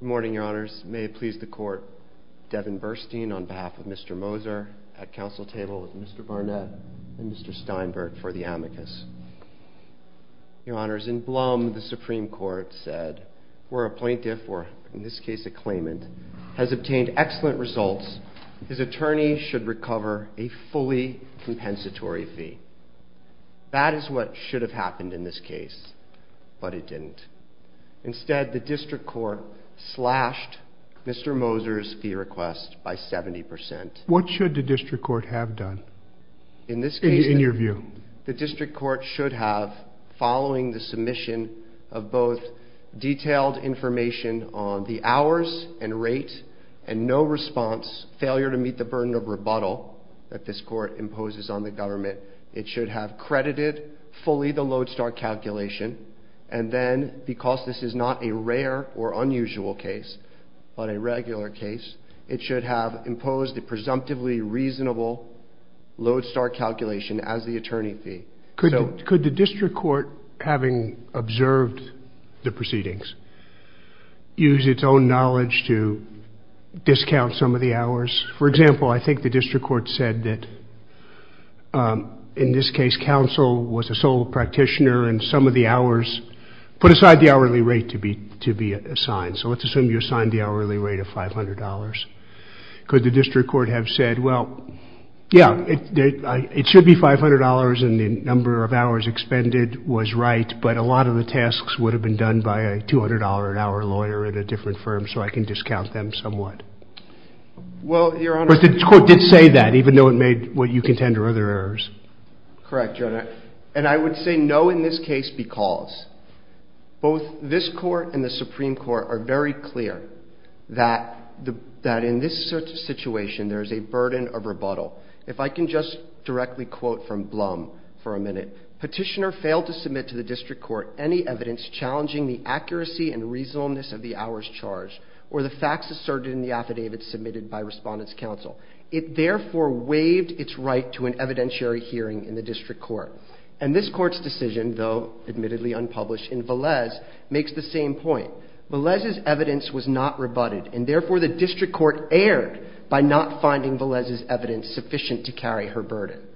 Good morning, your honors. May it please the court, Devin Burstein on behalf of Mr. Moser at council table with Mr. Barnett and Mr. Steinberg for the amicus. Your honors, in Blum, the Supreme Court said, where a plaintiff, or in this case a claimant, has obtained excellent results, his attorney should recover a fully compensatory fee. That is what should have happened in this case, but it didn't. Instead, the district court slashed Mr. Moser's fee request by 70%. What should the district court have done, in your view? The district court should have, following the submission of both detailed information on the hours and rate and no response, failure to meet the burden of rebuttal that this court imposes on the government, it should have credited fully the Lodestar calculation and then, because this is not a rare or unusual case, but a regular case, it should have imposed a presumptively reasonable Lodestar calculation as the attorney fee. Could the district court, having observed the proceedings, use its own knowledge to discount some of the hours? For example, I think the district court said that, in this case, counsel was the sole practitioner and some of the hours, put aside the hourly rate to be assigned. So let's assume you assigned the hourly rate of $500. Could the district court have said, well, yeah, it should be $500 and the number of hours expended was right, but a lot of the tasks would have been done by a $200 an hour lawyer at a different firm, so I can discount them somewhat. Well, Your Honor... But the court did say that, even though it made what you contend are other errors. Correct, Your Honor. And I would say no in this case because both this court and the district court have said that, in this case, there is a burden of rebuttal. If I can just directly quote from Blum for a minute, Petitioner failed to submit to the district court any evidence challenging the accuracy and reasonableness of the hours charged or the facts asserted in the affidavits submitted by Respondent's counsel. It therefore waived its right to an evidentiary hearing in the district court.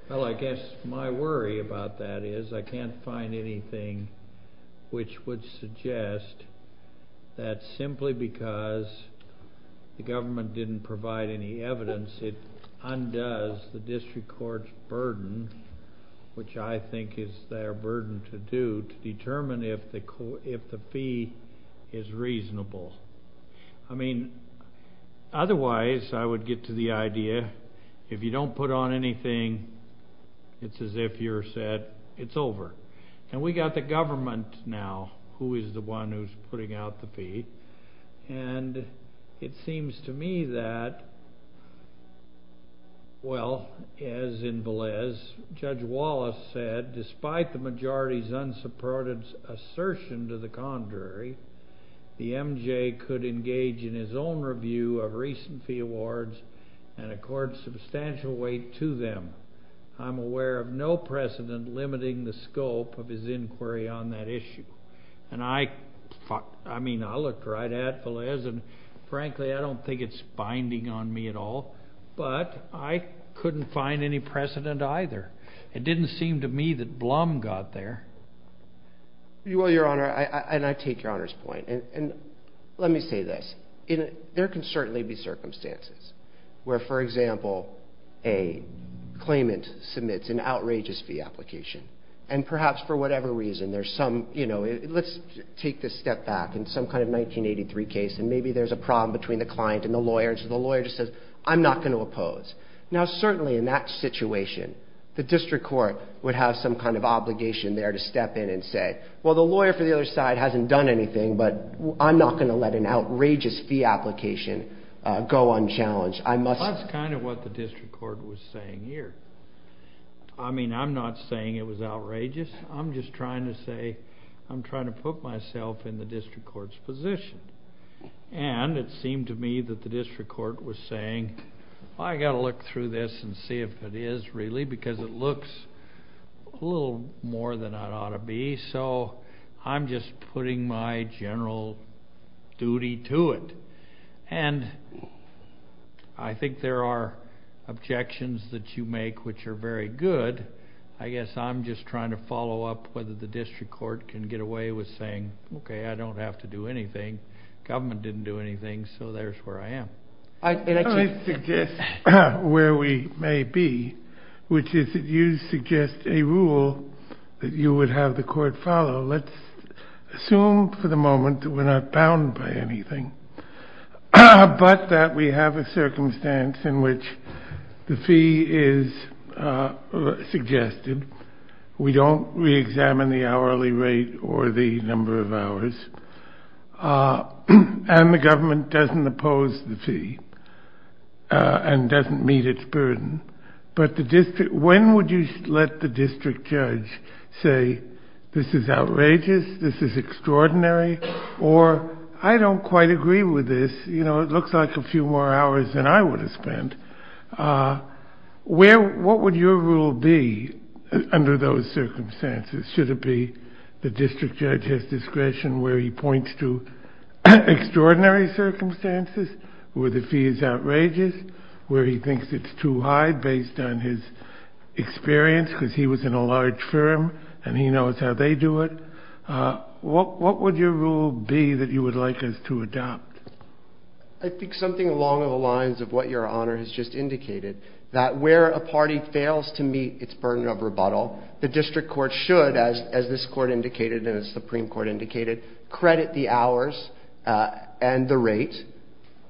Well, I guess my worry about that is I can't find anything which would suggest that simply because the government didn't provide any evidence, it undoes the district court's burden, which I think is their burden to do, to determine if the fee is reasonable. Well, I think the district court has a very good idea. If you don't put on anything, it's as if you're said, it's over. And we got the government now who is the one who's putting out the fee, and it seems to me that, well, as in Velez, Judge Wallace said, despite the majority's unsupported assertion to the contrary, the district court has no precedent in limiting the scope of his inquiry on that issue. And I mean, I looked right at Velez, and frankly, I don't think it's binding on me at all, but I couldn't find any precedent either. It didn't seem to me that Blum got there. Well, Your Honor, and I take Your Honor's point. And let me say this. There can be, for example, a claimant submits an outrageous fee application. And perhaps for whatever reason, there's some, you know, let's take this step back in some kind of 1983 case, and maybe there's a problem between the client and the lawyer, and so the lawyer just says, I'm not going to oppose. Now, certainly in that situation, the district court would have some kind of obligation there to step in and say, well, the lawyer for the other side hasn't done anything, but I'm not going to let an outrageous fee be submitted to the district court. And that's kind of what the district court was saying here. I mean, I'm not saying it was outrageous. I'm just trying to say, I'm trying to put myself in the district court's position. And it seemed to me that the district court was saying, well, I've got to look through this and see if it is really, because it looks a little more than it ought to be. So I'm just putting my general duty to it. And I think there are objections that you make which are very good. I guess I'm just trying to follow up whether the district court can get away with saying, okay, I don't have to do anything. Government didn't do anything, so there's where I am. I suggest where we may be, which is that you suggest a rule that you would have the court follow. Let's assume for the moment that we're not bound by anything, but that we have a circumstance in which the fee is suggested. We don't re-examine the hourly rate or the number of hours. And the government doesn't oppose the fee and doesn't meet its burden. But when would you let the district judge say, this is outrageous, this is extraordinary, or I don't quite agree with this. It looks like a few more hours than I would have spent. What would your rule be under those circumstances? Should it be the district judge has discretion where he points to extraordinary circumstances, where the fee is outrageous, where he thinks it's too high based on his experience because he was in a large firm and he knows how they do it. What would your rule be that you would like us to adopt? I think something along the lines of what Your Honor has just indicated, that where a party fails to meet its burden of rebuttal, the district court should, as this Court indicated and as the Supreme Court indicated, credit the hours and the rate.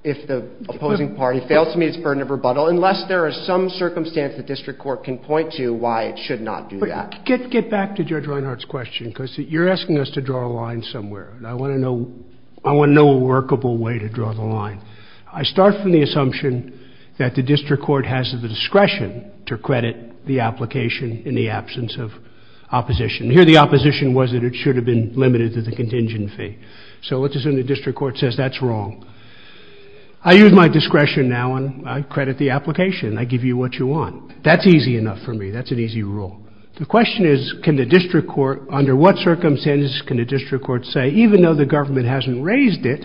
If the opposing party fails to meet its burden of rebuttal, unless there is some circumstance the district court can point to why it should not do that. But get back to Judge Reinhart's question because you're asking us to draw a line somewhere. I want to know a workable way to draw the line. I start from the assumption that the district court has the discretion to credit the application in the absence of opposition. Here the opposition was that it should have been limited to the contingent fee. So let's assume the district court says that's wrong. I use my discretion now and I credit the application. I give you what you want. That's easy enough for me. That's an easy rule. The question is, can the district court, under what circumstances can the district court say, even though the government hasn't raised it,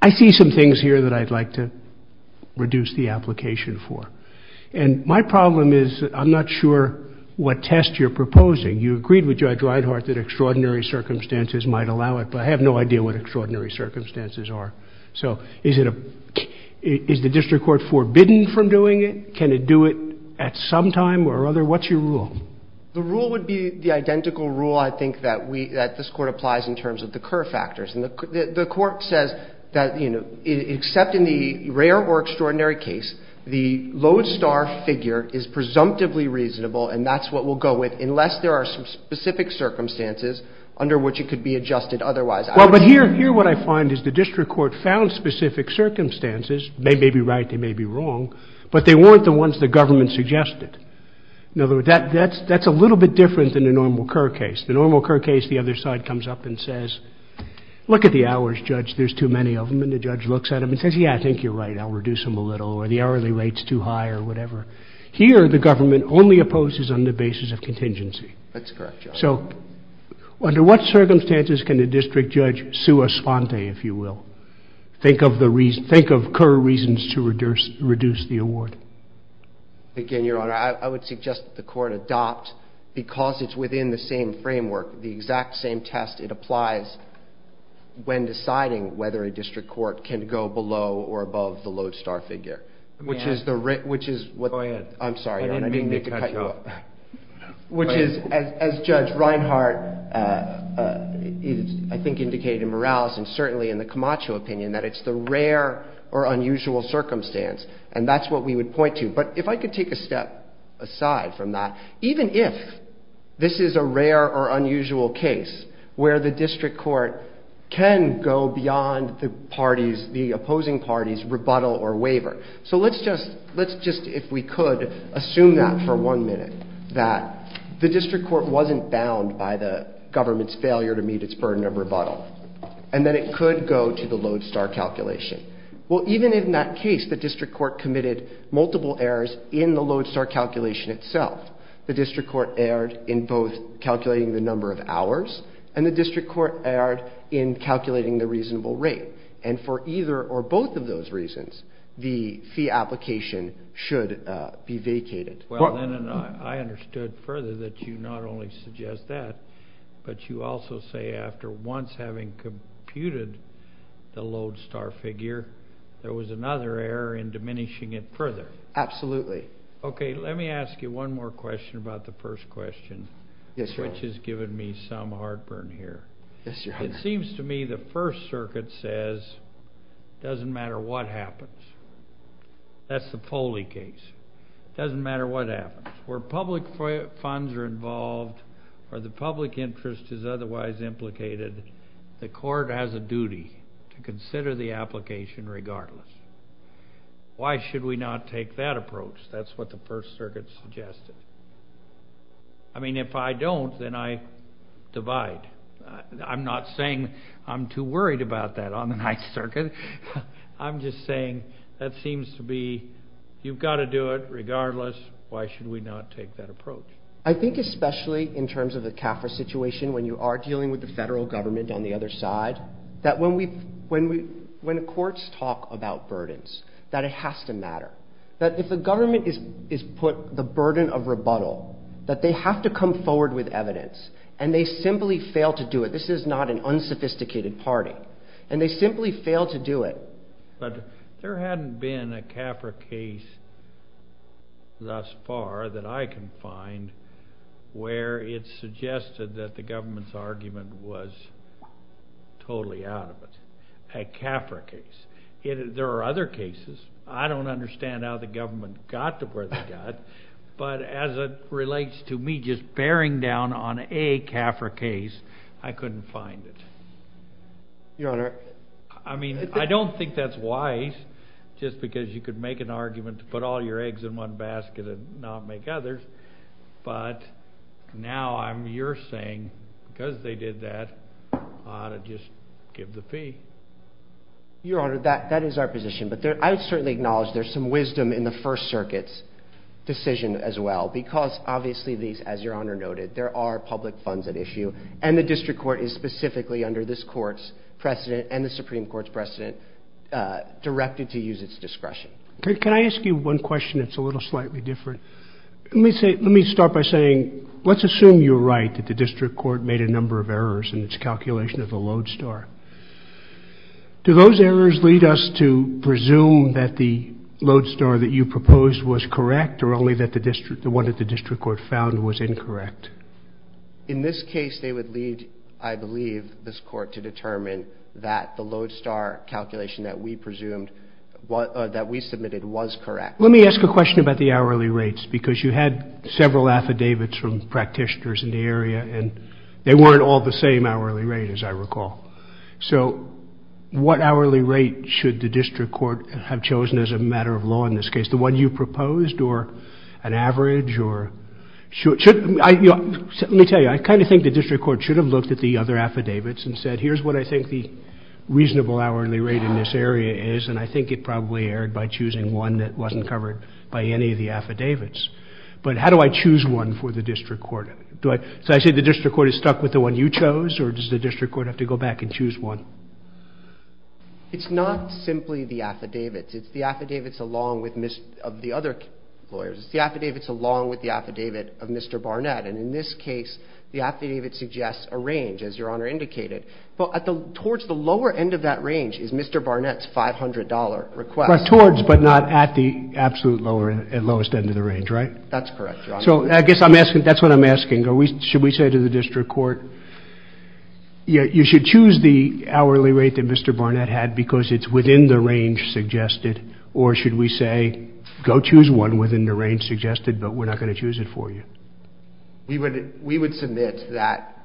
I see some things here that I'd like to reduce the application for. And my problem is I'm not sure what test you're proposing. You agreed with Judge Reinhart that extraordinary circumstances might allow it, but I have no idea what extraordinary circumstances are. So is it a — is the district court forbidden from doing it? Can it do it at some time or other? What's your rule? The rule would be the identical rule, I think, that we — that this Court applies in terms of the Kerr factors. And the Court says that, you know, except in the rare or extraordinary case, the lodestar figure is presumptively reasonable and that's what we'll go with unless there are some specific circumstances under which it could be adjusted otherwise. Well, but here — here what I find is the district court found specific circumstances — they may be right, they may be wrong — but they weren't the ones the government suggested. In other words, that's a little bit different than the normal Kerr case. The normal Kerr case, the other side comes up and says, look at the hours, Judge, there's too many of them, and the judge looks at them and says, yeah, I think you're right, I'll reduce them a little, or the hourly rate's too high, or whatever. Here, the government only opposes on the basis of contingency. That's correct, Your Honor. So under what circumstances can the district judge sue a sponte, if you will? Think of the reason — think of Kerr reasons to reduce — reduce the award. Again, Your Honor, I would suggest that the Court adopt, because it's within the same can go below or above the lodestar figure, which is the — which is — Go ahead. I'm sorry, Your Honor. I didn't mean to cut you off. Which is, as Judge Reinhart, I think, indicated in Morales, and certainly in the Camacho opinion, that it's the rare or unusual circumstance, and that's what we would point to. But if I could take a step aside from that, even if this is a rare or unusual case where the district court can go beyond the parties — the opposing parties' rebuttal or waiver — so let's just — let's just, if we could, assume that for one minute, that the district court wasn't bound by the government's failure to meet its burden of rebuttal, and that it could go to the lodestar calculation. Well, even in that case, the district court committed multiple errors in the lodestar calculation itself. The district court erred in both calculating the number of hours, and the district court erred in calculating the reasonable rate. And for either or both of those reasons, the fee application should be vacated. Well, then I understood further that you not only suggest that, but you also say, after once having computed the lodestar figure, there was another error in diminishing it further. Absolutely. Okay, let me ask you one more question about the first question. Yes, sir. Which has given me some heartburn here. Yes, sir. It seems to me the First Circuit says, doesn't matter what happens. That's the Foley case. Doesn't matter what happens. Where public funds are involved, or the public interest is otherwise implicated, the court has a duty to consider the application regardless. Why should we not take that approach? That's what the First Circuit suggested. I mean, if I don't, then I divide. I'm not saying I'm too worried about that on the Ninth Circuit. I'm just saying that seems to be, you've got to do it regardless. Why should we not take that approach? I think especially in terms of the CAFRA situation, when you are dealing with the that it has to matter, that if the government is put the burden of rebuttal, that they have to come forward with evidence, and they simply fail to do it. This is not an unsophisticated party. And they simply fail to do it. But there hadn't been a CAFRA case thus far that I can find where it's suggested that the government's argument was totally out of it. And that's why I'm saying that the government should not be putting the burden of rebuttal on a CAFRA case. There are other cases. I don't understand how the government got to where they got. But as it relates to me just bearing down on a CAFRA case, I couldn't find it. Your Honor. I mean, I don't think that's wise just because you could make an argument to put all your eggs in one basket and not make others. But now you're saying because they did that, I ought to just give the fee. Your Honor, that is our position. But I would certainly acknowledge there's some wisdom in the First Circuit's decision as well, because obviously, as Your Honor noted, there are public funds at issue, and the district court is specifically under this court's precedent and the Supreme Court's precedent directed to use its discretion. Can I ask you one question that's a little slightly different? Let me start by saying let's assume you're right, that the district court made a number of errors in its calculation of the Lodestar. Do those errors lead us to presume that the Lodestar that you proposed was correct or only that the one that the district court found was incorrect? In this case, they would lead, I believe, this court to determine that the Lodestar calculation that we presumed or that we submitted was correct. Let me ask a question about the hourly rates, because you had several affidavits from practitioners in the area, and they weren't all the same hourly rate, as I recall. So what hourly rate should the district court have chosen as a matter of law in this case? The one you proposed or an average? Let me tell you. I kind of think the district court should have looked at the other affidavits and said here's what I think the reasonable hourly rate in this area is, and I think it probably erred by choosing one that wasn't covered by any of the affidavits. But how do I choose one for the district court? So I say the district court is stuck with the one you chose, or does the district court have to go back and choose one? It's not simply the affidavits. It's the affidavits along with the other lawyers. It's the affidavits along with the affidavit of Mr. Barnett. And in this case, the affidavit suggests a range, as Your Honor indicated. Towards the lower end of that range is Mr. Barnett's $500 request. Towards but not at the absolute lowest end of the range, right? That's correct, Your Honor. So I guess that's what I'm asking. Should we say to the district court you should choose the hourly rate that Mr. Barnett had because it's within the range suggested, or should we say go choose one within the range suggested but we're not going to choose it for you? We would submit that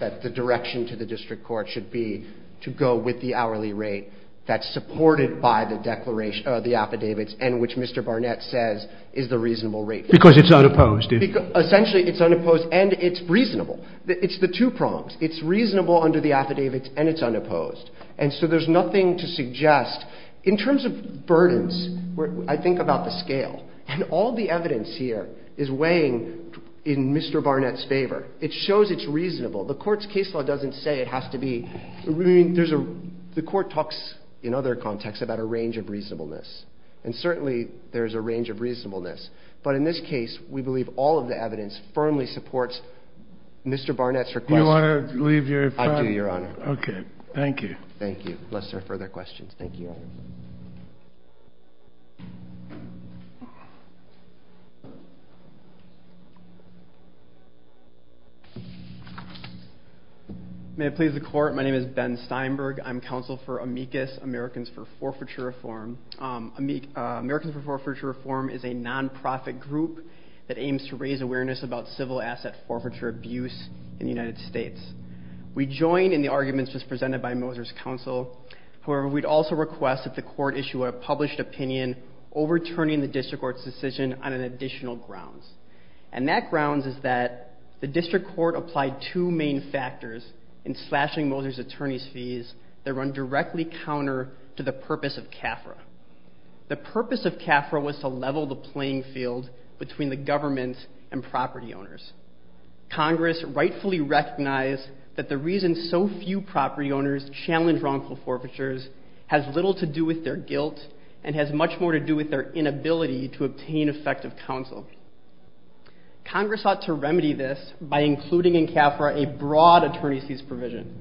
the direction to the district court should be to go with the hourly rate that's supported by the affidavits and which Mr. Barnett says is the reasonable rate. Because it's unopposed. Essentially it's unopposed and it's reasonable. It's the two prongs. It's reasonable under the affidavits and it's unopposed. And so there's nothing to suggest. In terms of burdens, I think about the scale. And all the evidence here is weighing in Mr. Barnett's favor. It shows it's reasonable. The court's case law doesn't say it has to be. The court talks in other contexts about a range of reasonableness. And certainly there's a range of reasonableness. But in this case, we believe all of the evidence firmly supports Mr. Barnett's request. Do you want to leave your comment? I do, Your Honor. Okay. Thank you. Thank you. Unless there are further questions. Thank you, Your Honor. May it please the court. My name is Ben Steinberg. I'm counsel for AMICUS, Americans for Forfeiture Reform. Americans for Forfeiture Reform is a nonprofit group that aims to raise awareness about civil asset forfeiture abuse in the United States. We join in the arguments just presented by Moser's counsel. However, we'd also request that the court issue a published opinion overturning the district court's decision on an additional grounds. And that grounds is that the district court applied two main factors in slashing Moser's attorney's fees that run directly counter to the purpose of CAFRA. The purpose of CAFRA was to level the playing field between the government and property owners. Congress rightfully recognized that the reason so few property owners challenge wrongful forfeitures has little to do with their guilt and has much more to do with their inability to obtain effective counsel. Congress sought to remedy this by including in CAFRA a broad attorney's fees provision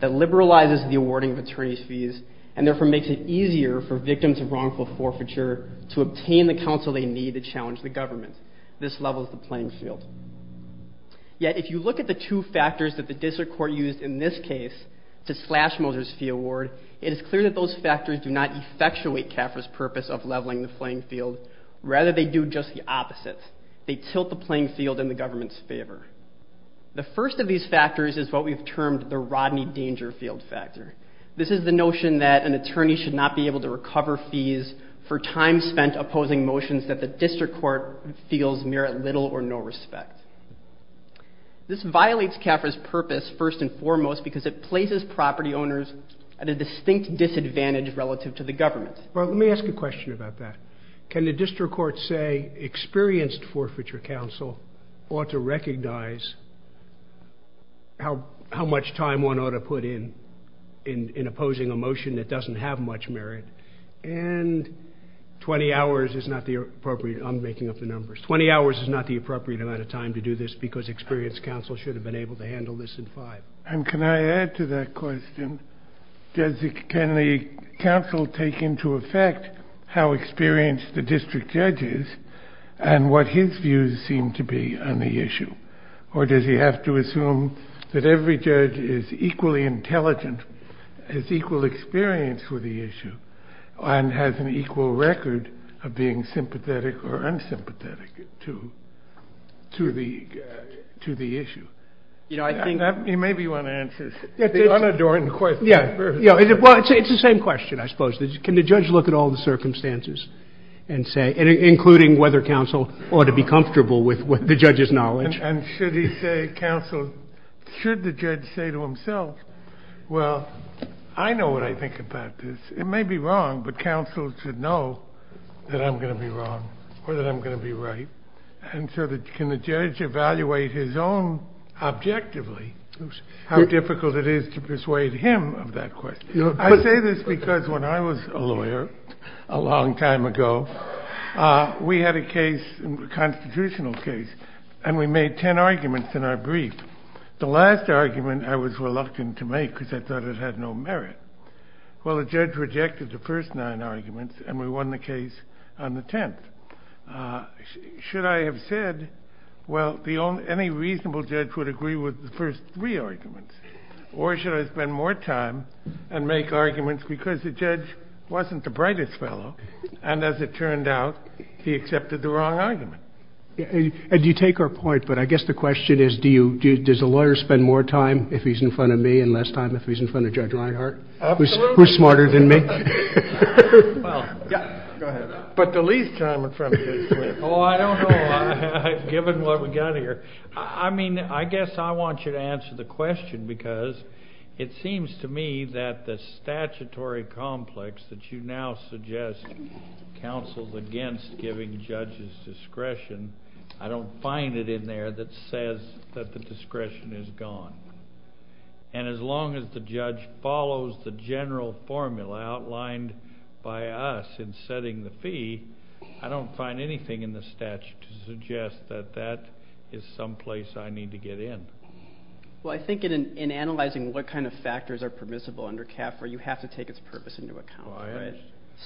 that liberalizes the awarding of attorney's fees and therefore makes it easier for victims of wrongful forfeiture to obtain the counsel they need to challenge the government. This levels the playing field. Yet if you look at the two factors that the district court used in this case to slash Moser's fee award, it is clear that those factors do not effectuate CAFRA's purpose of leveling the playing field. Rather, they do just the opposite. They tilt the playing field in the government's favor. The first of these factors is what we've termed the Rodney Danger field factor. This is the notion that an attorney should not be able to recover fees for time spent opposing motions that the district court feels merit little or no respect. This violates CAFRA's purpose, first and foremost, because it places property owners at a distinct disadvantage relative to the government. Well, let me ask a question about that. Can the district court say experienced forfeiture counsel ought to recognize how much time one ought to put in opposing a motion that doesn't have much merit and 20 hours is not the appropriate, I'm making up the numbers, 20 hours is not the appropriate amount of time to do this because experienced counsel should have been able to handle this in five. And can I add to that question, can the counsel take into effect how experienced the district judge is and what his views seem to be on the issue? Or does he have to assume that every judge is equally intelligent, has equal experience for the issue, and has an equal record of being sympathetic or unsympathetic to the issue? Maybe you want to answer the unadorned question first. Well, it's the same question, I suppose. Can the judge look at all the circumstances and say, including whether counsel ought to be comfortable with the judge's knowledge? And should the judge say to himself, well, I know what I think about this. It may be wrong, but counsel should know that I'm going to be wrong or that I'm going to be right. And so can the judge evaluate his own objectively how difficult it is to persuade him of that question? I say this because when I was a lawyer a long time ago, we had a case, a constitutional case, and we made 10 arguments in our brief. The last argument I was reluctant to make because I thought it had no merit. Well, the judge rejected the first nine arguments, and we won the case on the 10th. Should I have said, well, any reasonable judge would agree with the first three arguments, or should I spend more time and make arguments because the judge wasn't the brightest fellow and, as it turned out, he accepted the wrong argument? And you take our point, but I guess the question is, does a lawyer spend more time if he's in front of me and less time if he's in front of Judge Reinhart, who's smarter than me? Go ahead. But the least time in front of him. Oh, I don't know, given what we've got here. I mean, I guess I want you to answer the question because it seems to me that the statutory complex that you now suggest counsels against giving judges discretion, I don't find it in there that says that the discretion is gone. And as long as the judge follows the general formula outlined by us in setting the fee, I don't find anything in the statute to suggest that that is someplace I need to get in. Well, I think in analyzing what kind of factors are permissible under CAFRA, you have to take its purpose into account.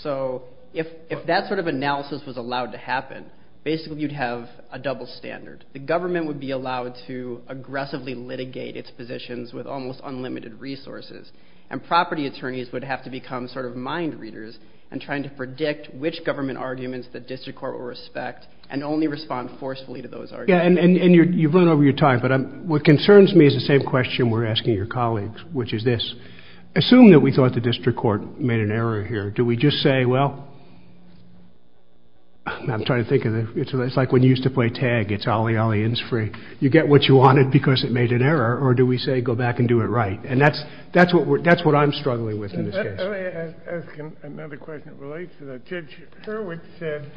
So if that sort of analysis was allowed to happen, basically you'd have a double standard. The government would be allowed to aggressively litigate its positions with almost unlimited resources, and property attorneys would have to become sort of mind readers in trying to predict which government arguments the district court will respect and only respond forcefully to those arguments. Yeah, and you've run over your time, but what concerns me is the same question we're asking your colleagues, which is this. Assume that we thought the district court made an error here. Do we just say, well, I'm trying to think of it. It's like when you used to play tag. It's ollie, ollie, in's free. You get what you wanted because it made an error, or do we say go back and do it right? And that's what I'm struggling with in this case. Let me ask another question that relates to that. Judge Hurwitz said,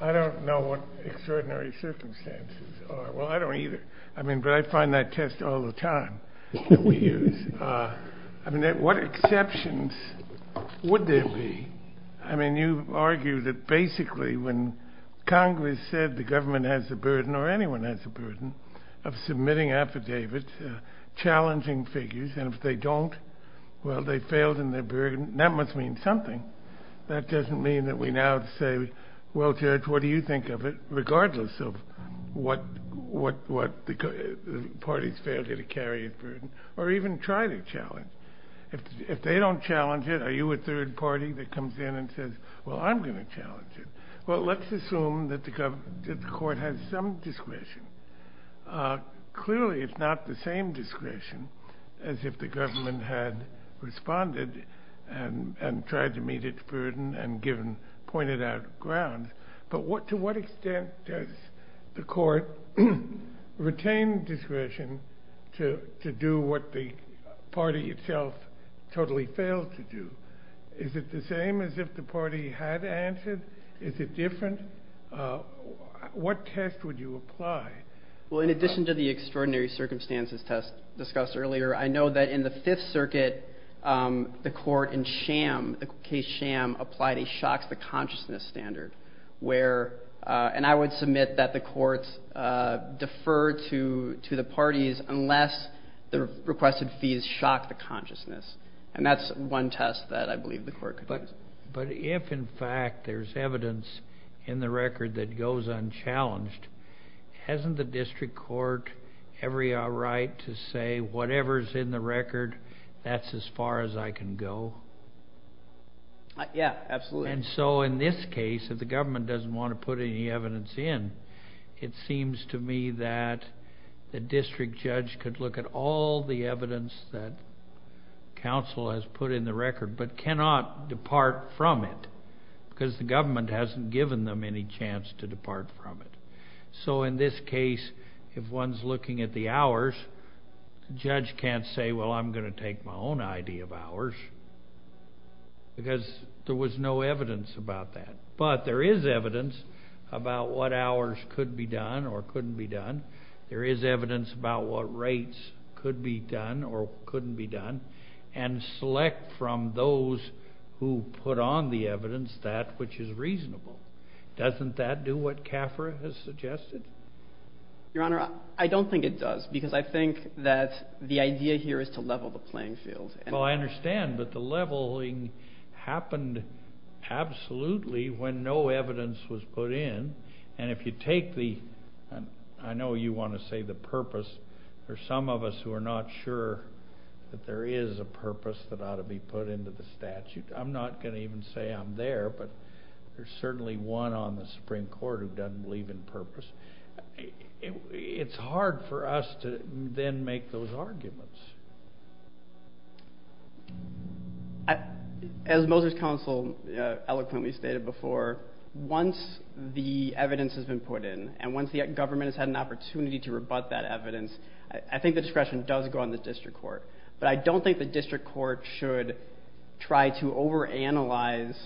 I don't know what extraordinary circumstances are. Well, I don't either. I mean, but I find that test all the time that we use. I mean, what exceptions would there be? I mean, you argue that basically when Congress said the government has a burden or anyone has a burden of submitting affidavits, challenging figures, and if they don't, well, they failed in their burden. That must mean something. That doesn't mean that we now say, well, Judge, what do you think of it, or even try to challenge? If they don't challenge it, are you a third party that comes in and says, well, I'm going to challenge it? Well, let's assume that the court has some discretion. Clearly, it's not the same discretion as if the government had responded and tried to meet its burden and pointed out grounds. But to what extent does the court retain discretion to do what the party itself totally failed to do? Is it the same as if the party had answered? Is it different? What test would you apply? Well, in addition to the extraordinary circumstances test discussed earlier, I know that in the Fifth Circuit, the court in Sham, the case Sham, applied a shock to the consciousness standard, and I would submit that the courts defer to the parties unless the requested fees shock the consciousness, and that's one test that I believe the court could use. But if, in fact, there's evidence in the record that goes unchallenged, hasn't the district court every right to say whatever's in the record, that's as far as I can go? Yeah, absolutely. And so in this case, if the government doesn't want to put any evidence in, it seems to me that the district judge could look at all the evidence that counsel has put in the record but cannot depart from it because the government hasn't given them any chance to depart from it. So in this case, if one's looking at the hours, the judge can't say, well, I'm going to take my own idea of hours because there was no evidence about that. But there is evidence about what hours could be done or couldn't be done. There is evidence about what rates could be done or couldn't be done, and select from those who put on the evidence that which is reasonable. Doesn't that do what CAFRA has suggested? Your Honor, I don't think it does because I think that the idea here is to level the playing field. Well, I understand, but the leveling happened absolutely when no evidence was put in. And if you take the, I know you want to say the purpose, there are some of us who are not sure that there is a purpose that ought to be put into the statute. I'm not going to even say I'm there, but there's certainly one on the Supreme Court who doesn't believe in purpose. It's hard for us to then make those arguments. As Moser's counsel eloquently stated before, once the evidence has been put in and once the government has had an opportunity to rebut that evidence, I think the discretion does go on the district court. But I don't think the district court should try to overanalyze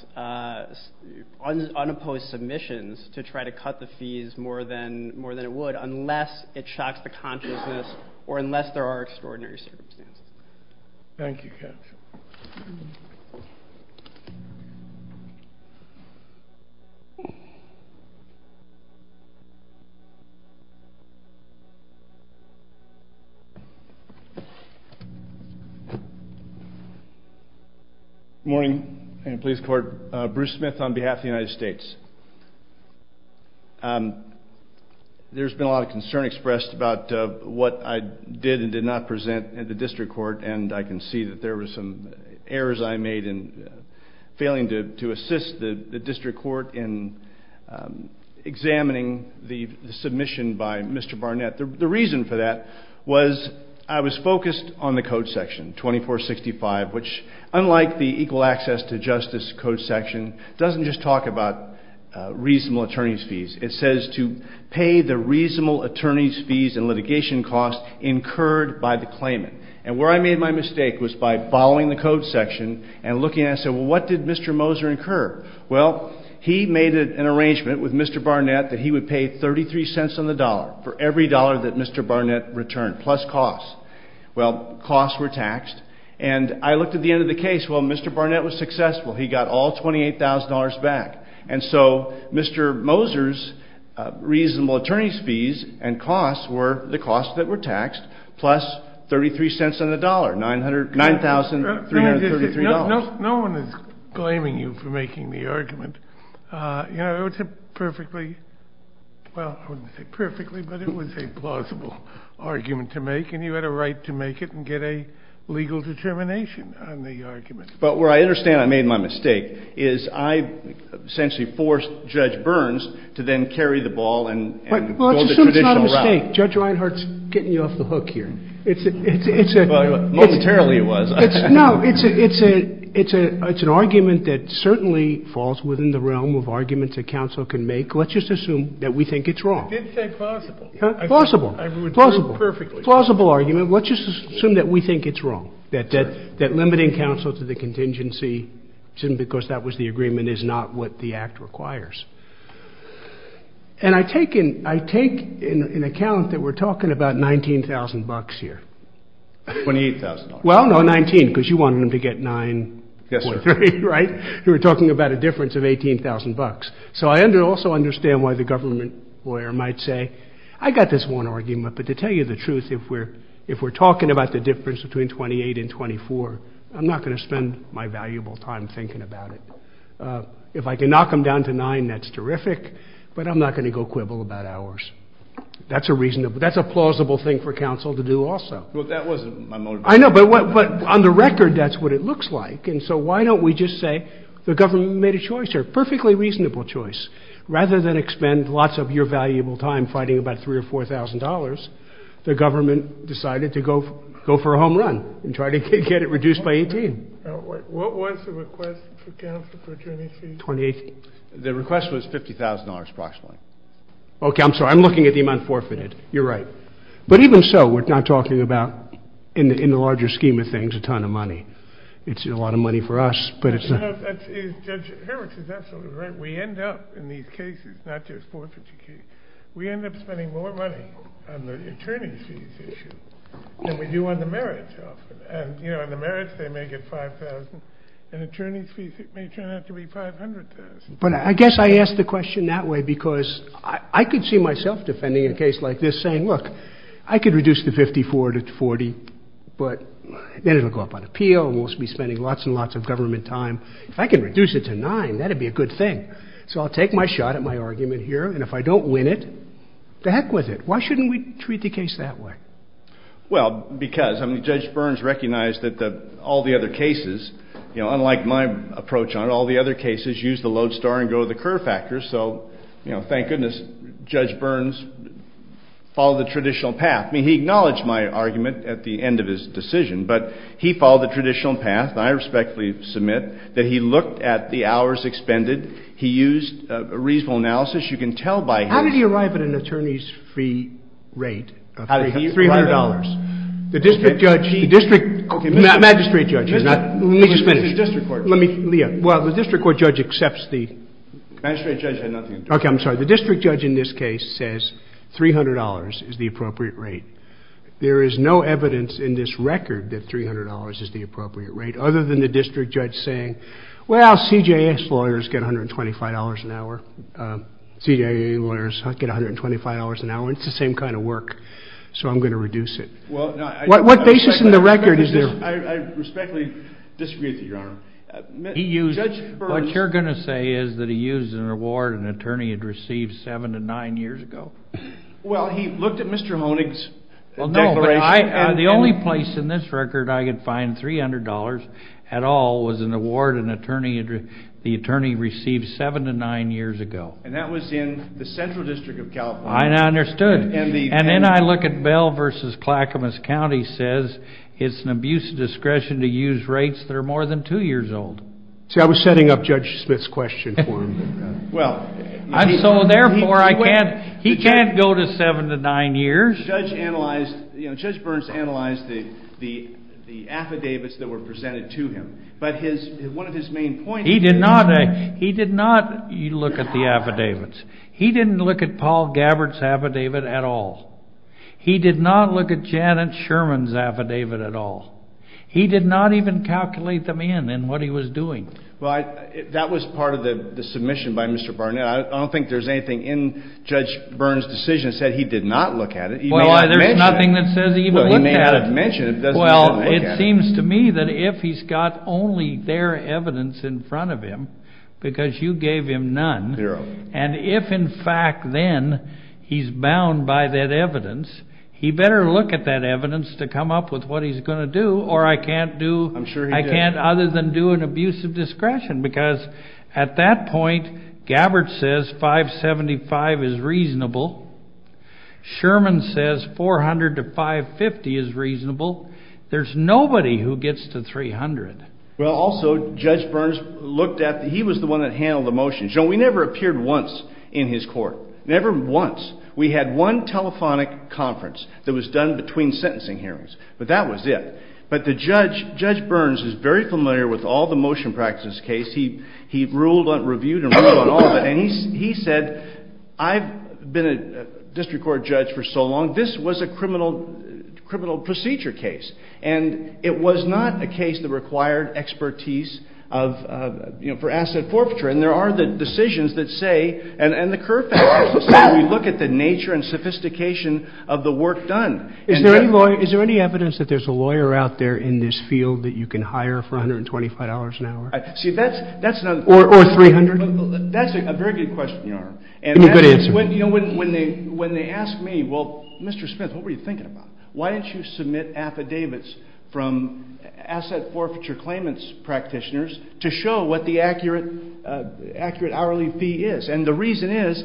unopposed submissions to try to cut the fees more than it would unless it shocks the consciousness or unless there are extraordinary circumstances. Thank you, Captain. Good morning, police court. Bruce Smith on behalf of the United States. There's been a lot of concern expressed about what I did and did not present at the district court, and I can see that there were some errors I made in failing to assist the district court in examining the submission by Mr. Barnett. The reason for that was I was focused on the code section, 2465, which unlike the equal access to justice code section, doesn't just talk about reasonable attorney's fees. It says to pay the reasonable attorney's fees and litigation costs incurred by the claimant. And where I made my mistake was by following the code section and looking and I said, well, what did Mr. Moser incur? Well, he made an arrangement with Mr. Barnett that he would pay 33 cents on the dollar for every dollar that Mr. Barnett returned plus costs. Well, costs were taxed. And I looked at the end of the case. Well, Mr. Barnett was successful. He got all $28,000 back. And so Mr. Moser's reasonable attorney's fees and costs were the costs that were taxed plus 33 cents on the dollar, $9,333. No one is blaming you for making the argument. You know, it was a perfectly, well, I wouldn't say perfectly, but it was a plausible argument to make, and you had a right to make it and get a legal determination on the argument. But where I understand I made my mistake is I essentially forced Judge Burns to then carry the ball and go the traditional route. Well, let's assume it's not a mistake. Judge Reinhart's getting you off the hook here. Well, momentarily it was. No, it's an argument that certainly falls within the realm of arguments that counsel can make. Let's just assume that we think it's wrong. I did say plausible. Plausible. I ruined it perfectly. Plausible argument. Let's just assume that we think it's wrong, that limiting counsel to the contingency because that was the agreement is not what the Act requires. And I take in account that we're talking about $19,000 here. $28,000. Well, no, $19,000, because you wanted him to get $9.3, right? Yes, sir. You were talking about a difference of $18,000. So I also understand why the government lawyer might say, I got this one argument, but to tell you the truth, if we're talking about the difference between $28,000 and $24,000, I'm not going to spend my valuable time thinking about it. If I can knock them down to $9,000, that's terrific, but I'm not going to go quibble about hours. That's a plausible thing for counsel to do also. Well, that wasn't my motivation. I know, but on the record, that's what it looks like. And so why don't we just say the government made a choice here, a perfectly reasonable choice. Rather than expend lots of your valuable time fighting about $3,000 or $4,000, the government decided to go for a home run and try to get it reduced by $18,000. What was the request for counsel for attorney fees? $28,000. The request was $50,000 approximately. Okay, I'm sorry. I'm looking at the amount forfeited. You're right. But even so, we're not talking about, in the larger scheme of things, a ton of money. It's a lot of money for us, but it's not. Judge Hurwitz is absolutely right. We end up in these cases, not just forfeiture cases, we end up spending more money on the attorney fees issue than we do on the merits often. And, you know, on the merits they may get $5,000, and attorney fees may turn out to be $500,000. But I guess I ask the question that way because I could see myself defending a case like this saying, look, I could reduce the $54,000 to $40,000, but then it will go up on appeal and we'll be spending lots and lots of government time. If I can reduce it to $9,000, that would be a good thing. So I'll take my shot at my argument here, and if I don't win it, to heck with it. Why shouldn't we treat the case that way? Well, because Judge Burns recognized that all the other cases, you know, unlike my approach on it, all the other cases use the load star and go to the curve factor. So, you know, thank goodness Judge Burns followed the traditional path. I mean, he acknowledged my argument at the end of his decision, but he followed the traditional path, and I respectfully submit that he looked at the hours expended. He used a reasonable analysis. You can tell by his... How did he arrive at an attorney's fee rate? $300. The district judge... The magistrate judge is not... Let me just finish. The district court judge. Well, the district court judge accepts the... The magistrate judge had nothing to do with it. Okay, I'm sorry. The district judge in this case says $300 is the appropriate rate. There is no evidence in this record that $300 is the appropriate rate, other than the district judge saying, well, CJS lawyers get $125 an hour. CJA lawyers get $125 an hour. It's the same kind of work, so I'm going to reduce it. What basis in the record is there? I respectfully disagree with you, Your Honor. He used... Judge Burns... What you're going to say is that he used an award an attorney had received seven to nine years ago? Well, he looked at Mr. Honig's declaration. The only place in this record I could find $300 at all was an award an attorney received seven to nine years ago. And that was in the Central District of California. I understood. And then I look at Bell v. Clackamas County says it's an abuse of discretion to use rates that are more than two years old. See, I was setting up Judge Smith's question for him. So, therefore, he can't go to seven to nine years. Judge Burns analyzed the affidavits that were presented to him. But one of his main points... He did not look at the affidavits. He didn't look at Paul Gabbard's affidavit at all. He did not look at Janet Sherman's affidavit at all. He did not even calculate them in in what he was doing. Well, that was part of the submission by Mr. Barnett. I don't think there's anything in Judge Burns' decision that said he did not look at it. Well, there's nothing that says he even looked at it. Well, he may not have mentioned it. Well, it seems to me that if he's got only their evidence in front of him, because you gave him none, and if, in fact, then, he's bound by that evidence, he better look at that evidence to come up with what he's going to do, or I can't do... I'm sure he did. I can't other than do an abuse of discretion, because at that point, Gabbard says 575 is reasonable. Sherman says 400 to 550 is reasonable. There's nobody who gets to 300. Well, also, Judge Burns looked at... He was the one that handled the motions. You know, we never appeared once in his court. Never once. We had one telephonic conference that was done between sentencing hearings, but that was it. But Judge Burns is very familiar with all the motion practices case. He reviewed and ruled on all of it, and he said, I've been a district court judge for so long, this was a criminal procedure case, and it was not a case that required expertise for asset forfeiture, and there are the decisions that say, and the Kerr factors that say, we look at the nature and sophistication of the work done. Is there any evidence that there's a lawyer out there in this field that you can hire for $125 an hour? See, that's not... Or 300? That's a very good question, Your Honor. And that's... Good answer. When they ask me, well, Mr. Smith, what were you thinking about? Why didn't you submit affidavits from asset forfeiture claimants practitioners to show what the accurate hourly fee is? And the reason is,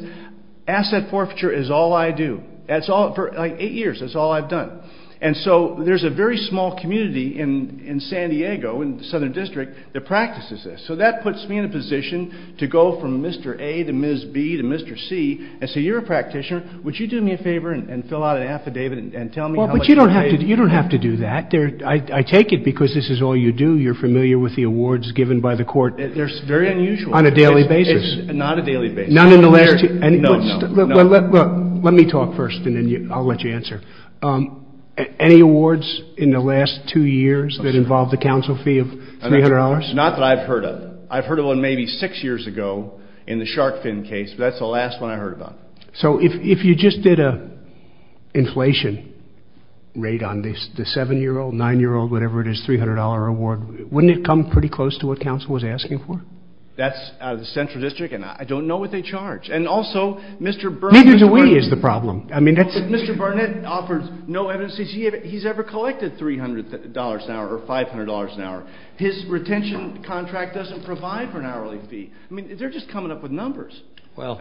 asset forfeiture is all I do. For eight years, that's all I've done. And so there's a very small community in San Diego, in the Southern District, that practices this. So that puts me in a position to go from Mr. A to Ms. B to Mr. C and say, you're a practitioner, would you do me a favor and fill out an affidavit and tell me how much you pay? Well, but you don't have to do that. I take it because this is all you do. You're familiar with the awards given by the court. They're very unusual. On a daily basis. It's not a daily basis. None in the last two... No, no. Let me talk first, and then I'll let you answer. Any awards in the last two years that involve the counsel fee of $300? Not that I've heard of. I've heard of one maybe six years ago in the shark fin case, but that's the last one I heard about. So if you just did an inflation rate on the 7-year-old, 9-year-old, whatever it is, $300 award, wouldn't it come pretty close to what counsel was asking for? That's out of the Central District, and I don't know what they charge. And also, Mr. Burnett... Neither do we is the problem. Mr. Burnett offers no evidence that he's ever collected $300 an hour or $500 an hour. His retention contract doesn't provide for an hourly fee. I mean, they're just coming up with numbers. Well,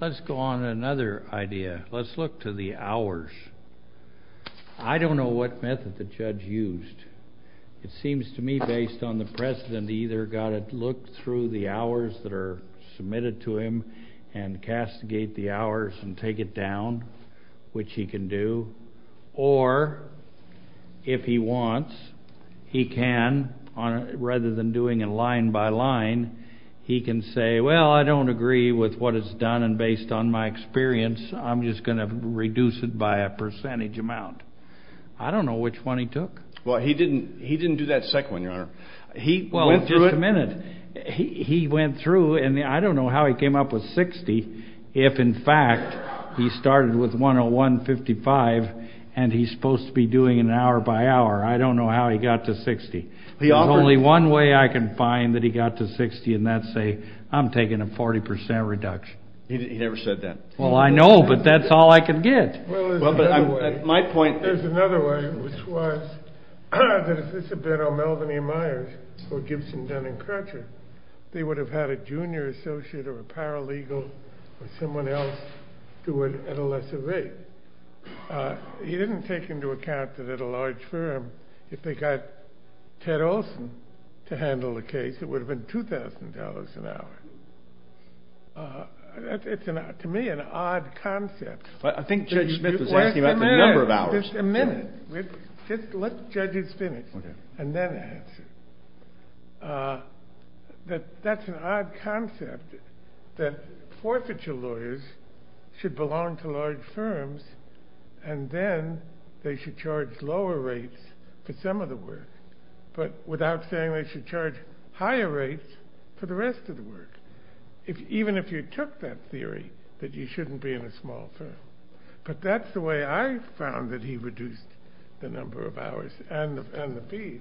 let's go on to another idea. Let's look to the hours. I don't know what method the judge used. It seems to me, based on the precedent, he either got to look through the hours that are submitted to him and castigate the hours and take it down, which he can do, or if he wants, he can, rather than doing it line by line, he can say, well, I don't agree with what is done, and based on my experience, I'm just going to reduce it by a percentage amount. I don't know which one he took. Well, he didn't do that second one, Your Honor. He went through it. Well, just a minute. He went through, and I don't know how he came up with 60 if, in fact, he started with 101.55 and he's supposed to be doing it hour by hour. I don't know how he got to 60. There's only one way I can find that he got to 60, and that's say, I'm taking a 40% reduction. He never said that. Well, I know, but that's all I can get. Well, there's another way. At my point. There's another way, which was that if this had been on Melvin A. Myers or Gibson, Dunn, and Crutcher, they would have had a junior associate or a paralegal or someone else do it at a lesser rate. He didn't take into account that at a large firm, if they got Ted Olson to handle the case, it would have been $2,000 an hour. To me, it's an odd concept. I think Judge Smith is asking about the number of hours. Just a minute. Let the judges finish and then answer. That's an odd concept that forfeiture lawyers should belong to large firms, and then they should charge lower rates for some of the work, but without saying they should charge higher rates for the rest of the work, even if you took that theory that you shouldn't be in a small firm. But that's the way I found that he reduced the number of hours and the fees.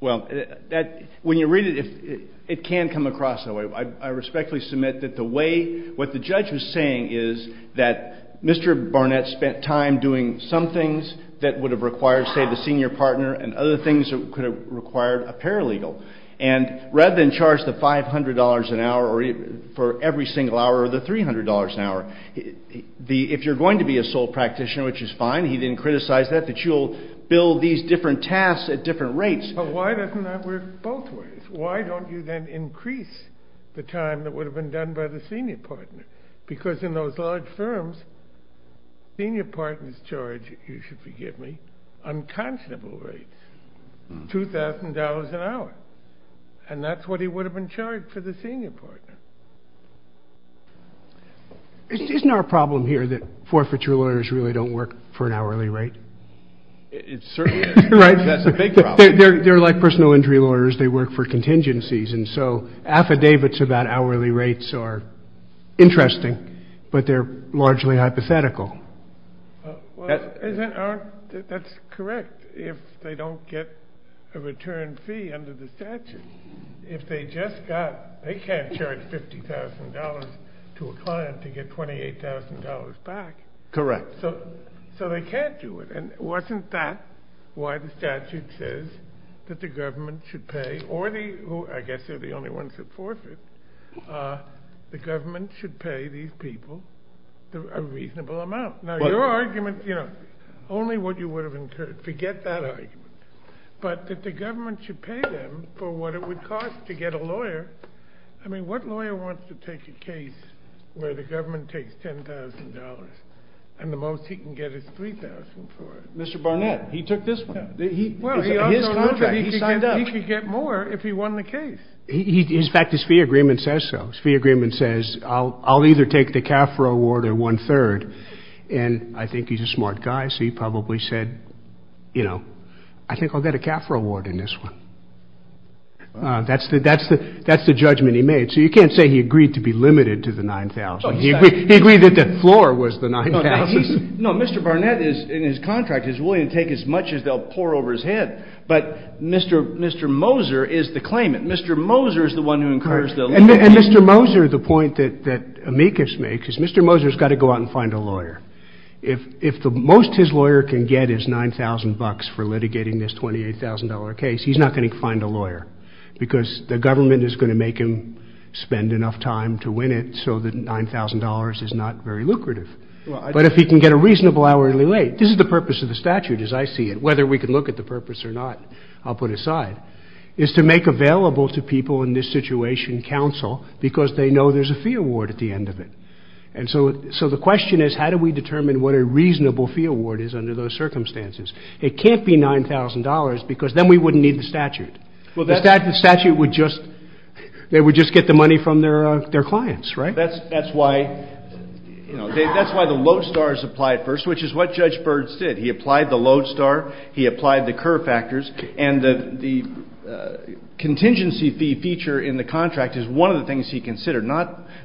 Well, when you read it, it can come across that way. I respectfully submit that the way what the judge was saying is that Mr. Barnett spent time doing some things that would have required, say, the senior partner and other things that could have required a paralegal. And rather than charge the $500 an hour for every single hour or the $300 an hour, if you're going to be a sole practitioner, which is fine, he didn't criticize that. You'll build these different tasks at different rates. But why doesn't that work both ways? Why don't you then increase the time that would have been done by the senior partner? Because in those large firms, senior partners charge, you should forgive me, unconscionable rates, $2,000 an hour, and that's what he would have been charged for the senior partner. Isn't there a problem here that forfeiture lawyers really don't work for an hourly rate? It certainly is. Right? That's a big problem. They're like personal injury lawyers. They work for contingencies. And so affidavits about hourly rates are interesting, but they're largely hypothetical. That's correct if they don't get a return fee under the statute. If they just got, they can't charge $50,000 to a client to get $28,000 back. Correct. So they can't do it. And wasn't that why the statute says that the government should pay, or I guess they're the only ones that forfeit, the government should pay these people a reasonable amount. Now your argument, you know, only what you would have incurred. Forget that argument. But that the government should pay them for what it would cost to get a lawyer. I mean, what lawyer wants to take a case where the government takes $10,000 and the most he can get is $3,000 for it? Mr. Barnett. He took this one. His contract. He signed up. He could get more if he won the case. In fact, his fee agreement says so. His fee agreement says, I'll either take the CAFRA award or one-third. And I think he's a smart guy, so he probably said, you know, I think I'll get a CAFRA award in this one. That's the judgment he made. So you can't say he agreed to be limited to the $9,000. He agreed that the floor was the $9,000. No, Mr. Barnett in his contract is willing to take as much as they'll pour over his head. But Mr. Moser is the claimant. Mr. Moser is the one who incurs the limit. And Mr. Moser, the point that amicus makes, is Mr. Moser has got to go out and find a lawyer. If the most his lawyer can get is $9,000 for litigating this $28,000 case, he's not going to find a lawyer. Because the government is going to make him spend enough time to win it so that $9,000 is not very lucrative. But if he can get a reasonable hourly rate, this is the purpose of the statute as I see it, whether we can look at the purpose or not, I'll put aside, is to make available to people in this situation counsel because they know there's a fee award at the end of it. And so the question is how do we determine what a reasonable fee award is under those circumstances? It can't be $9,000 because then we wouldn't need the statute. The statute would just get the money from their clients, right? That's why the lodestar is applied first, which is what Judge Byrd said. He applied the lodestar. He applied the Kerr factors. And the contingency fee feature in the contract is one of the things he considered.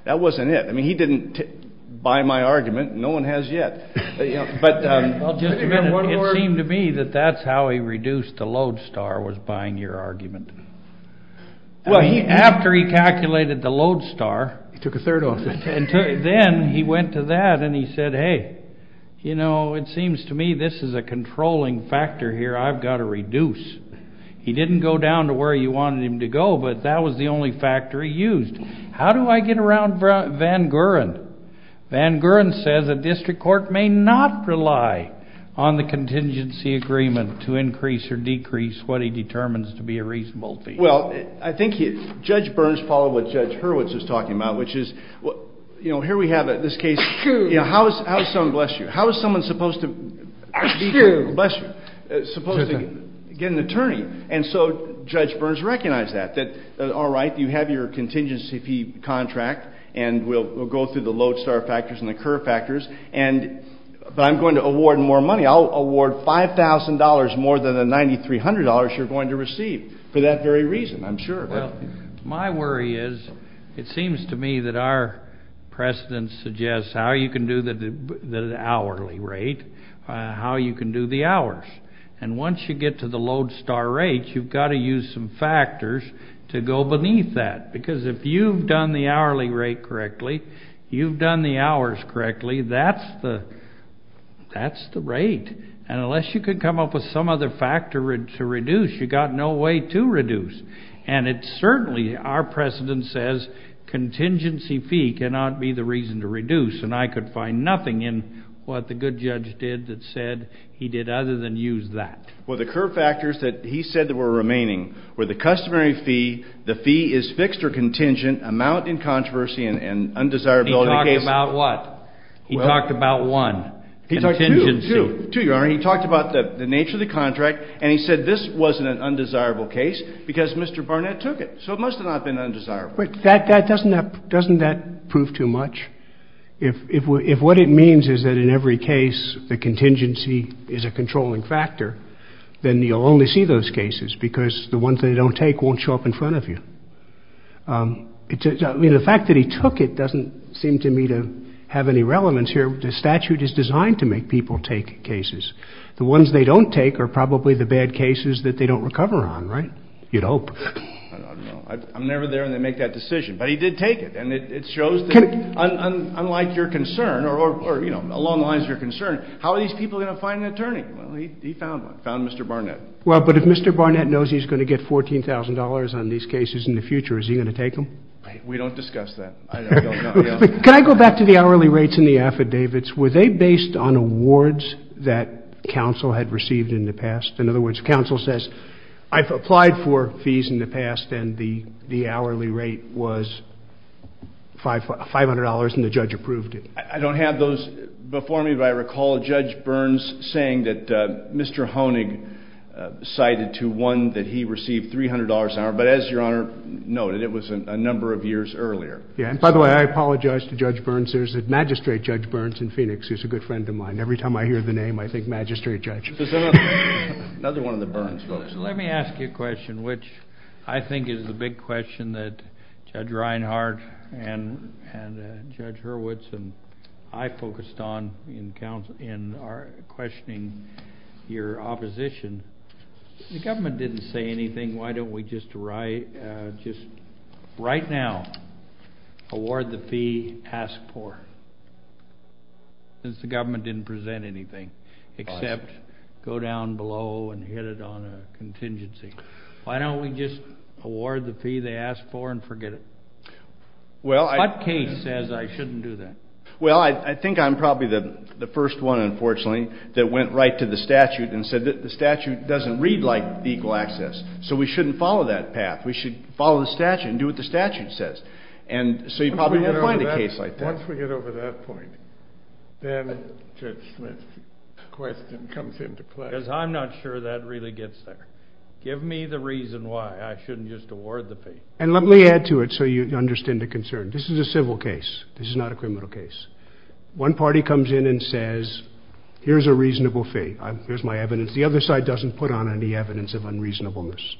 That wasn't it. I mean, he didn't buy my argument. No one has yet. It seemed to me that that's how he reduced the lodestar was buying your argument. Well, after he calculated the lodestar. He took a third of it. Then he went to that and he said, hey, you know, it seems to me this is a controlling factor here I've got to reduce. He didn't go down to where you wanted him to go, but that was the only factor he used. How do I get around Van Guren? Van Guren says a district court may not rely on the contingency agreement to increase or decrease what he determines to be a reasonable fee. Well, I think Judge Burns followed what Judge Hurwitz was talking about, which is, you know, here we have this case. How is someone supposed to get an attorney? And so Judge Burns recognized that. All right, you have your contingency fee contract and we'll go through the lodestar factors and the curve factors. But I'm going to award more money. I'll award $5,000 more than the $9,300 you're going to receive for that very reason, I'm sure. Well, my worry is it seems to me that our precedent suggests how you can do the hourly rate, how you can do the hours. And once you get to the lodestar rate, you've got to use some factors to go beneath that. Because if you've done the hourly rate correctly, you've done the hours correctly, that's the rate. And unless you can come up with some other factor to reduce, you've got no way to reduce. And it's certainly our precedent says contingency fee cannot be the reason to reduce. And I could find nothing in what the good judge did that said he did other than use that. Well, the curve factors that he said that were remaining were the customary fee, the fee is fixed or contingent, amount in controversy and undesirability case. He talked about what? He talked about one, contingency. Two, Your Honor. He talked about the nature of the contract and he said this wasn't an undesirable case because Mr. Barnett took it. So it must have not been undesirable. But doesn't that prove too much? If what it means is that in every case the contingency is a controlling factor, then you'll only see those cases because the ones they don't take won't show up in front of you. I mean, the fact that he took it doesn't seem to me to have any relevance here. The statute is designed to make people take cases. The ones they don't take are probably the bad cases that they don't recover on, right? You'd hope. I don't know. I'm never there when they make that decision. But he did take it and it shows that unlike your concern or, you know, along the lines of your concern, how are these people going to find an attorney? Well, he found one, found Mr. Barnett. Well, but if Mr. Barnett knows he's going to get $14,000 on these cases in the future, is he going to take them? We don't discuss that. Can I go back to the hourly rates and the affidavits? Were they based on awards that counsel had received in the past? In other words, counsel says I've applied for fees in the past and the hourly rate was $500 and the judge approved it. I don't have those before me, but I recall Judge Burns saying that Mr. Honig cited to one that he received $300 an hour. But as Your Honor noted, it was a number of years earlier. Yeah, and by the way, I apologize to Judge Burns. There's a magistrate, Judge Burns, in Phoenix who's a good friend of mine. Every time I hear the name, I think magistrate judge. Another one of the Burns folks. Let me ask you a question, which I think is a big question that Judge Reinhart and Judge Hurwitz and I focused on in questioning your opposition. If the government didn't say anything, why don't we just right now award the fee asked for? Since the government didn't present anything except go down below and hit it on a contingency. Why don't we just award the fee they asked for and forget it? What case says I shouldn't do that? Well, I think I'm probably the first one, unfortunately, that went right to the statute and said the statute doesn't read like legal access. So we shouldn't follow that path. We should follow the statute and do what the statute says. And so you probably wouldn't find a case like that. Once we get over that point, then Judge Smith's question comes into play. Because I'm not sure that really gets there. Give me the reason why I shouldn't just award the fee. And let me add to it so you understand the concern. This is a civil case. This is not a criminal case. One party comes in and says, here's a reasonable fee. Here's my evidence. The other side doesn't put on any evidence of unreasonableness.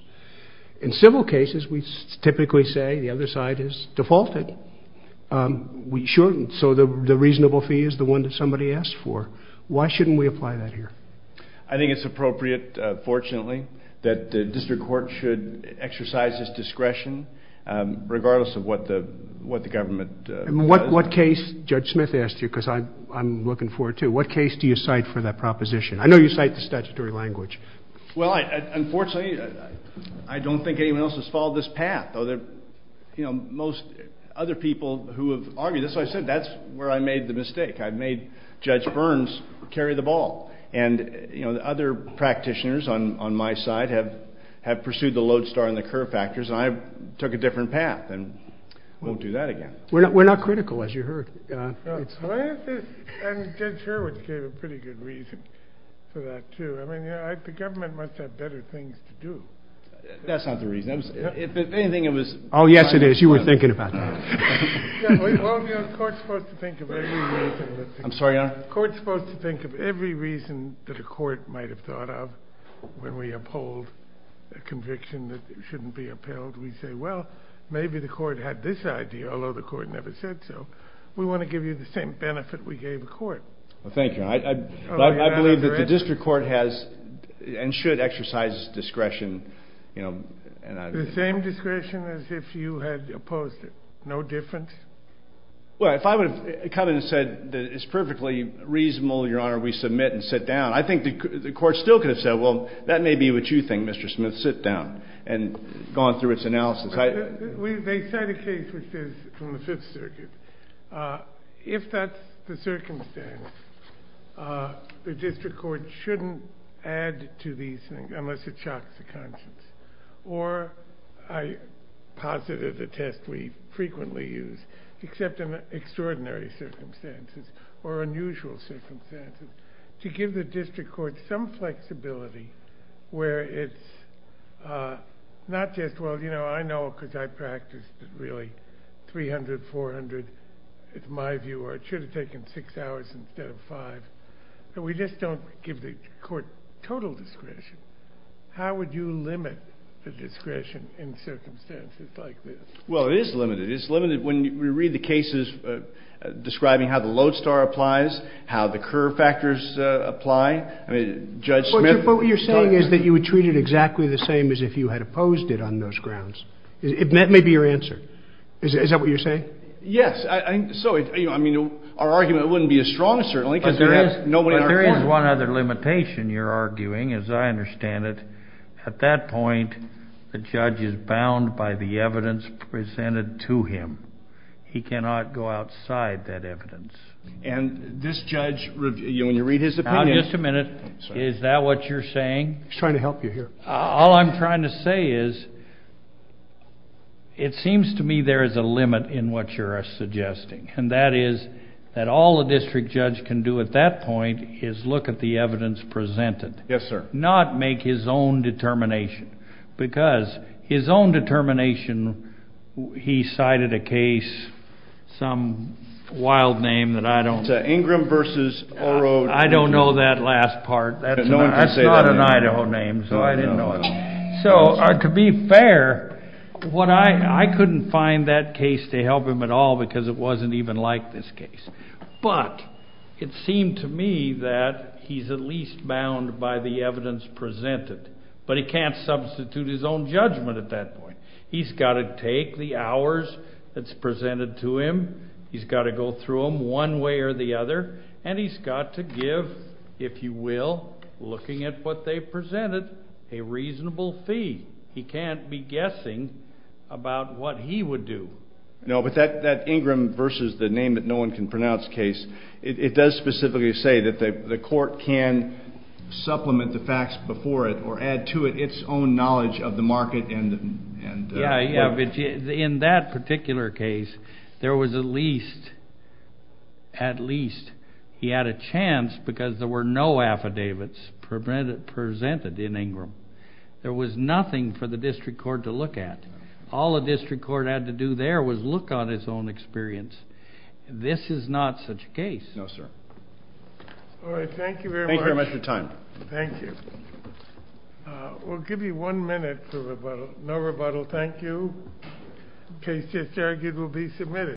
In civil cases, we typically say the other side has defaulted. We shouldn't. So the reasonable fee is the one that somebody asked for. Why shouldn't we apply that here? I think it's appropriate, fortunately, that the district court should exercise its discretion, regardless of what the government says. And what case, Judge Smith asked you, because I'm looking forward to, what case do you cite for that proposition? I know you cite the statutory language. Well, unfortunately, I don't think anyone else has followed this path. Most other people who have argued, that's what I said, that's where I made the mistake. I made Judge Burns carry the ball. And other practitioners on my side have pursued the lodestar and the curve factors. And I took a different path and won't do that again. We're not critical, as you heard. And Judge Hurwitz gave a pretty good reason for that, too. I mean, the government must have better things to do. That's not the reason. Oh, yes, it is. You were thinking about that. Well, the court's supposed to think of every reason that a court might have thought of when we uphold a conviction that shouldn't be upheld. We say, well, maybe the court had this idea, although the court never said so. We want to give you the same benefit we gave the court. Well, thank you. I believe that the district court has and should exercise discretion. The same discretion as if you had opposed it. No difference? Well, if I would have come in and said that it's perfectly reasonable, Your Honor, we submit and sit down, I think the court still could have said, well, that may be what you think, Mr. Smith. Sit down. And gone through its analysis. They cite a case which is from the Fifth Circuit. If that's the circumstance, the district court shouldn't add to these things unless it shocks the conscience. Or I posit that the test we frequently use, except in extraordinary circumstances or unusual circumstances, to give the district court some flexibility where it's not just, well, you know, I know because I practiced really 300, 400, it's my view, or it should have taken six hours instead of five. But we just don't give the court total discretion. How would you limit the discretion in circumstances like this? Well, it is limited. It's limited when we read the cases describing how the lodestar applies, how the curve factors apply. I mean, Judge Smith. But what you're saying is that you would treat it exactly the same as if you had opposed it on those grounds. That may be your answer. Is that what you're saying? Yes. So, I mean, our argument wouldn't be as strong, certainly, because we have nobody in our court. But there is one other limitation you're arguing, as I understand it. At that point, the judge is bound by the evidence presented to him. He cannot go outside that evidence. And this judge, when you read his opinion. Now, just a minute. Is that what you're saying? He's trying to help you here. All I'm trying to say is it seems to me there is a limit in what you're suggesting. And that is that all a district judge can do at that point is look at the evidence presented. Yes, sir. Not make his own determination. Because his own determination, he cited a case, some wild name that I don't know. Ingram versus Oro. I don't know that last part. That's not an Idaho name. So I didn't know it. So, to be fair, I couldn't find that case to help him at all because it wasn't even like this case. But it seemed to me that he's at least bound by the evidence presented. But he can't substitute his own judgment at that point. He's got to take the hours that's presented to him. He's got to go through them one way or the other. And he's got to give, if you will, looking at what they've presented, a reasonable fee. He can't be guessing about what he would do. No, but that Ingram versus the name that no one can pronounce case, it does specifically say that the court can supplement the facts before it or add to it its own knowledge of the market and the court. Yeah, yeah, but in that particular case, there was at least he had a chance because there were no affidavits presented in Ingram. There was nothing for the district court to look at. All the district court had to do there was look on its own experience. This is not such a case. No, sir. All right, thank you very much. Thank you very much for your time. Thank you. We'll give you one minute for rebuttal. No rebuttal, thank you. Case just argued will be submitted.